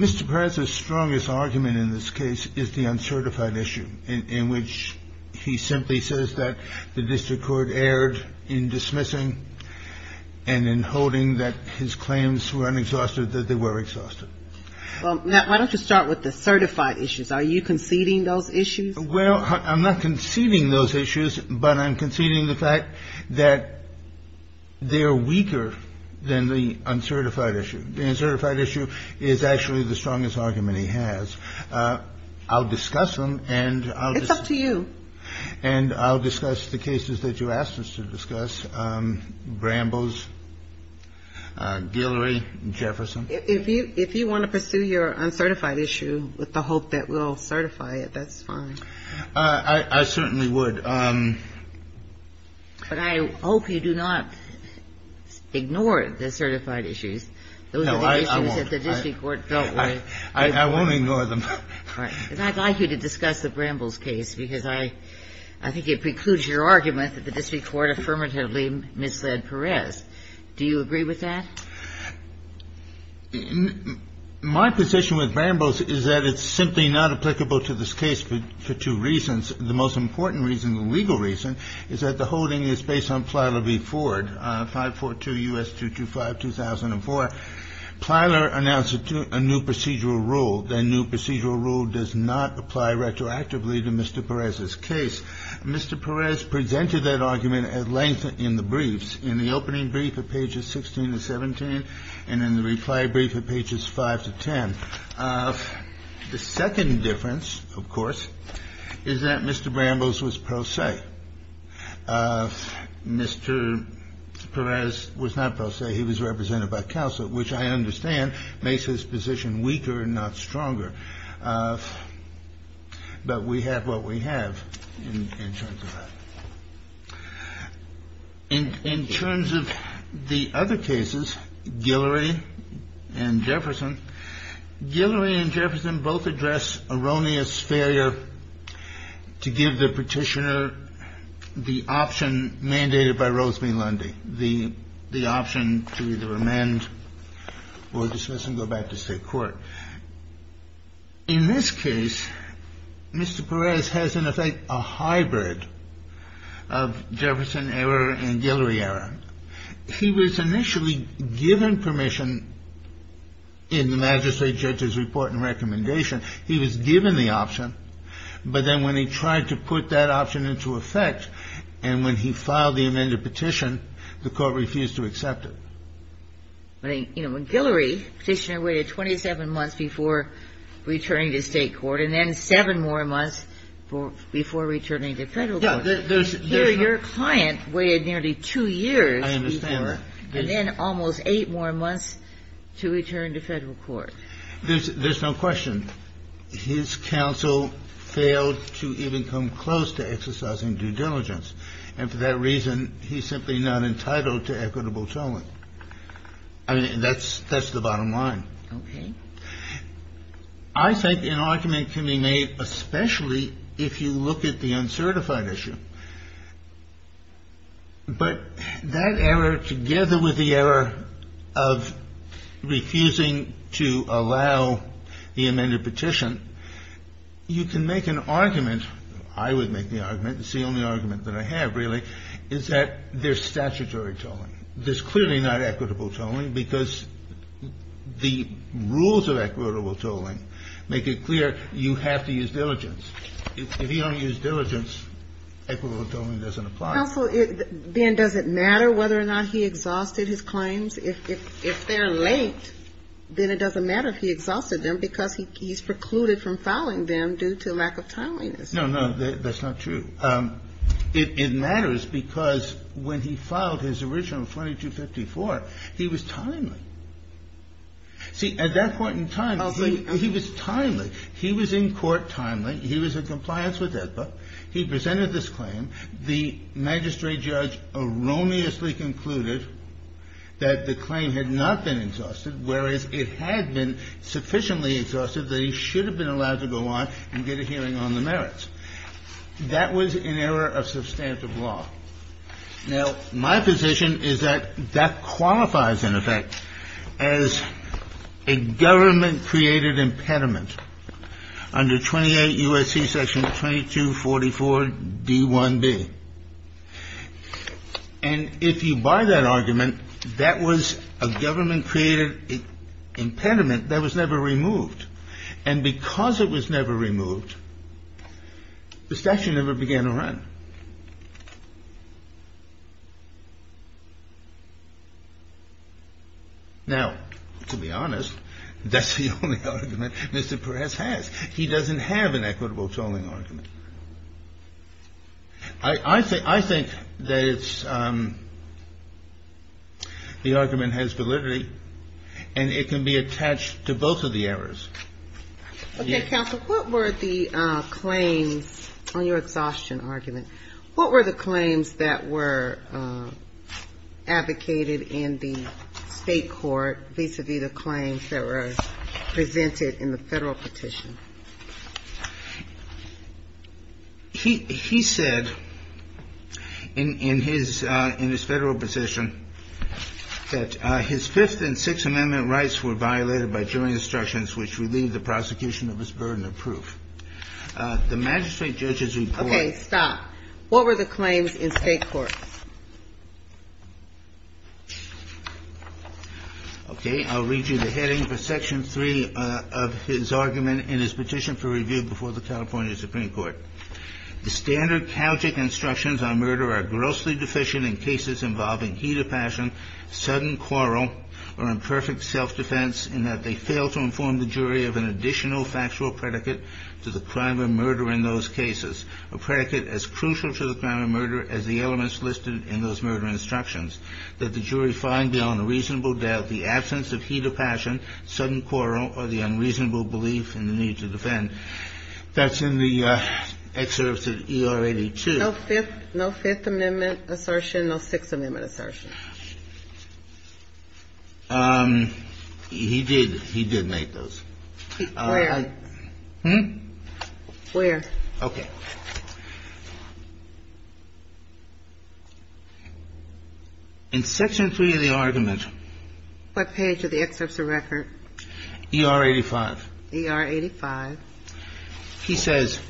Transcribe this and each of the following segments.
Mr. Perez's strongest argument in this case is the uncertified issue, in which he simply says that the district court erred in dismissing and in holding that his claims were unexhausted, that they were exhausted. Well, Matt, why don't you start with the certified issues. Are you conceding those issues? Well, I'm not conceding those issues, but I'm conceding the fact that they are weaker than the uncertified issue. The uncertified issue is actually the strongest argument he has. I'll discuss them and I'll just. And I'll discuss the cases that you asked us to discuss, Bramble's, Guillory, and Jefferson. If you want to pursue your uncertified issue with the hope that we'll certify it, that's fine. I certainly would. But I hope you do not ignore the certified issues. No, I won't. Those are the issues that the district court felt were. I won't ignore them. I'd like you to discuss the Bramble's case, because I think it precludes your argument that the district court affirmatively misled Perez. Do you agree with that? My position with Bramble's is that it's simply not applicable to this case for two reasons. The most important reason, the legal reason, is that the holding is based on Plyler v. Ford, 542 U.S. 225, 2004. Plyler announced a new procedural rule. That new procedural rule does not apply retroactively to Mr. Perez's case. Mr. Perez presented that argument at length in the briefs, in the opening brief of pages 16 to 17 and in the reply brief of pages 5 to 10. The second difference, of course, is that Mr. Bramble's was pro se. Mr. Perez was not pro se. He was represented by counsel, which I understand makes his position weaker and not stronger. But we have what we have in terms of in terms of the other cases, Guillory and Jefferson, Guillory and Jefferson both address erroneous failure to give the petitioner the option mandated by Rosemey Lundy, the option to either amend or dismiss and go back to state court. In this case, Mr. Perez has, in effect, a hybrid of Jefferson error and Guillory error. He was initially given permission in the magistrate judge's report and recommendation. He was given the option. But then when he tried to put that option into effect and when he filed the amended petition, the court refused to accept it. I mean, you know, when Guillory petitioner waited 27 months before returning to state court and then seven more months before returning to federal court. And here your client waited nearly two years before and then almost eight more months to return to federal court. There's no question. His counsel failed to even come close to exercising due diligence. And for that reason, he's simply not entitled to equitable tolling. I mean, that's the bottom line. Okay. I think an argument can be made, especially if you look at the uncertified issue. But that error, together with the error of refusing to allow the amended petition, you can make an argument. I would make the argument. It's the only argument that I have, really, is that there's statutory tolling. There's clearly not equitable tolling, because the rules of equitable tolling make it clear you have to use diligence. If you don't use diligence, equitable tolling doesn't apply. Counsel, then does it matter whether or not he exhausted his claims? If they're late, then it doesn't matter if he exhausted them, because he's precluded from filing them due to lack of timeliness. No, no, that's not true. It matters because when he filed his original 4254, he was timely. See, at that point in time, he was timely. He was in court timely. He was in compliance with AEDPA. He presented this claim. The magistrate judge erroneously concluded that the claim had not been exhausted, whereas it had been sufficiently exhausted that he should have been allowed to go on and get a hearing on the merits. That was in error of substantive law. Now, my position is that that qualifies, in effect, as a government-created impediment under 28 U.S.C. Section 2244d1b. And if you buy that argument, that was a government-created impediment that was never removed. And because it was never removed, the statute never began to run. Now, to be honest, that's the only argument Mr. Perez has. He doesn't have an equitable tolling argument. I think that it's the argument has validity, and it can be attached to both of the errors. Okay, counsel, what were the claims on your exhaustion argument? What were the claims that were advocated in the state court vis-a-vis the claims that were presented in the Federal petition? He said in his Federal position that his Fifth and Sixth Amendment rights were violated by jury instructions, which relieved the prosecution of his burden of proof. The magistrate judge's report – Okay, stop. What were the claims in state court? Okay, I'll read you the heading for Section 3 of his argument in his petition for review before the California Supreme Court. The standard chaotic instructions on murder are grossly deficient in cases involving heat of passion, sudden quarrel, or imperfect self-defense, in that they fail to inform the jury of an additional factual predicate to the crime of murder in those cases, a predicate as crucial to the crime of murder as the elements listed in those murder instructions, that the jury find beyond a reasonable doubt the absence of heat of passion, sudden quarrel, or the unreasonable belief in the need to defend. That's in the excerpts of ER 82. No Fifth Amendment assertion, no Sixth Amendment assertion. He did make those. Where? Hmm? Where? Okay. In Section 3 of the argument – What page of the excerpts of the record? ER 85. ER 85. He says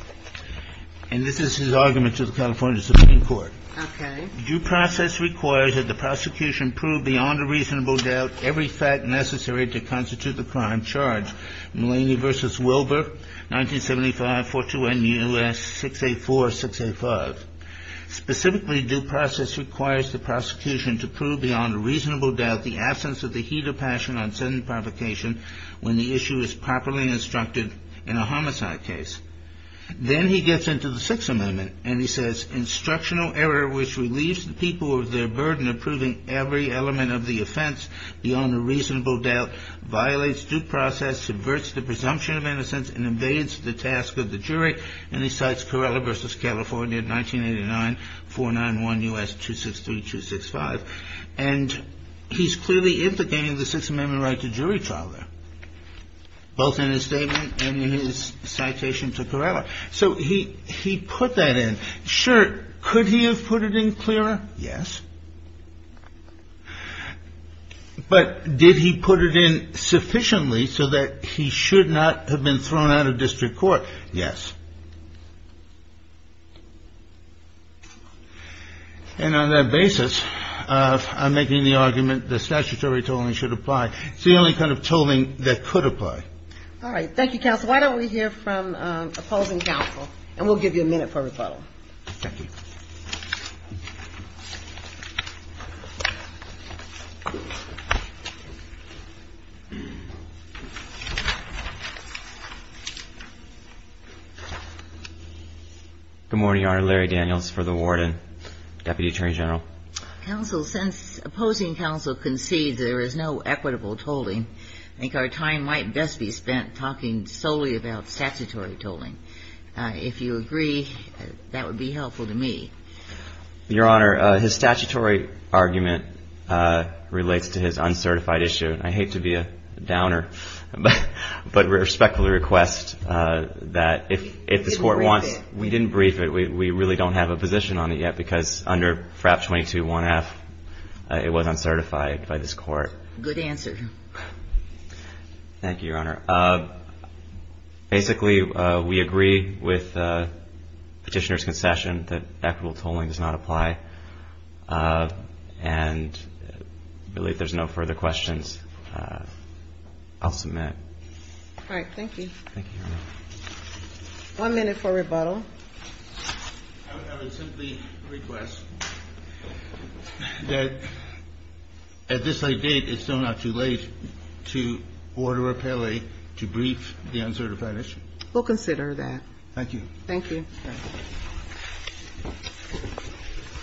– and this is his argument to the California Supreme Court – Okay. Due process requires that the prosecution prove beyond a reasonable doubt every fact necessary to constitute the crime charged. Mulaney v. Wilbur, 1975, 42NUS 684-685. Specifically, due process requires the prosecution to prove beyond a reasonable doubt the absence of the heat of passion on sudden provocation when the issue is properly instructed in a homicide case. Then he gets into the Sixth Amendment, and he says – Instructional error which relieves the people of their burden of proving every element of the offense beyond a reasonable doubt violates due process, subverts the presumption of innocence, and invades the task of the jury. And he cites Corrella v. California, 1989, 491US263-265. And he's clearly implicating the Sixth Amendment right to jury trial there, both in his statement and in his citation to Corrella. So he put that in. Sure, could he have put it in clearer? Yes. But did he put it in sufficiently so that he should not have been thrown out of district court? Yes. And on that basis, I'm making the argument that statutory tolling should apply. It's the only kind of tolling that could apply. All right. Thank you, counsel. Why don't we hear from opposing counsel, and we'll give you a minute for rebuttal. Thank you. Good morning, Your Honor. Larry Daniels for the warden, Deputy Attorney General. Counsel, since opposing counsel concedes there is no equitable tolling, I think our time might best be spent talking solely about statutory tolling. If you agree, that would be helpful to me. Your Honor, his statutory argument relates to his uncertified issue. I hate to be a downer, but respectfully request that if this Court wants to – We didn't brief it. We didn't brief it. We really don't have a position on it yet because under FRAP 22-1F, it was uncertified by this Court. Good answer. Thank you, Your Honor. Basically, we agree with Petitioner's concession that equitable tolling does not apply, and I believe there's no further questions. I'll submit. All right. Thank you. Thank you, Your Honor. One minute for rebuttal. I would simply request that at this late date, it's still not too late, to order Appellee to brief the uncertified issue. We'll consider that. Thank you. Thank you.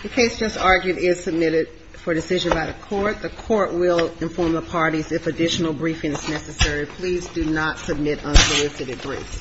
The case just argued is submitted for decision by the Court. The Court will inform the parties if additional briefing is necessary. Please do not submit unsolicited briefs.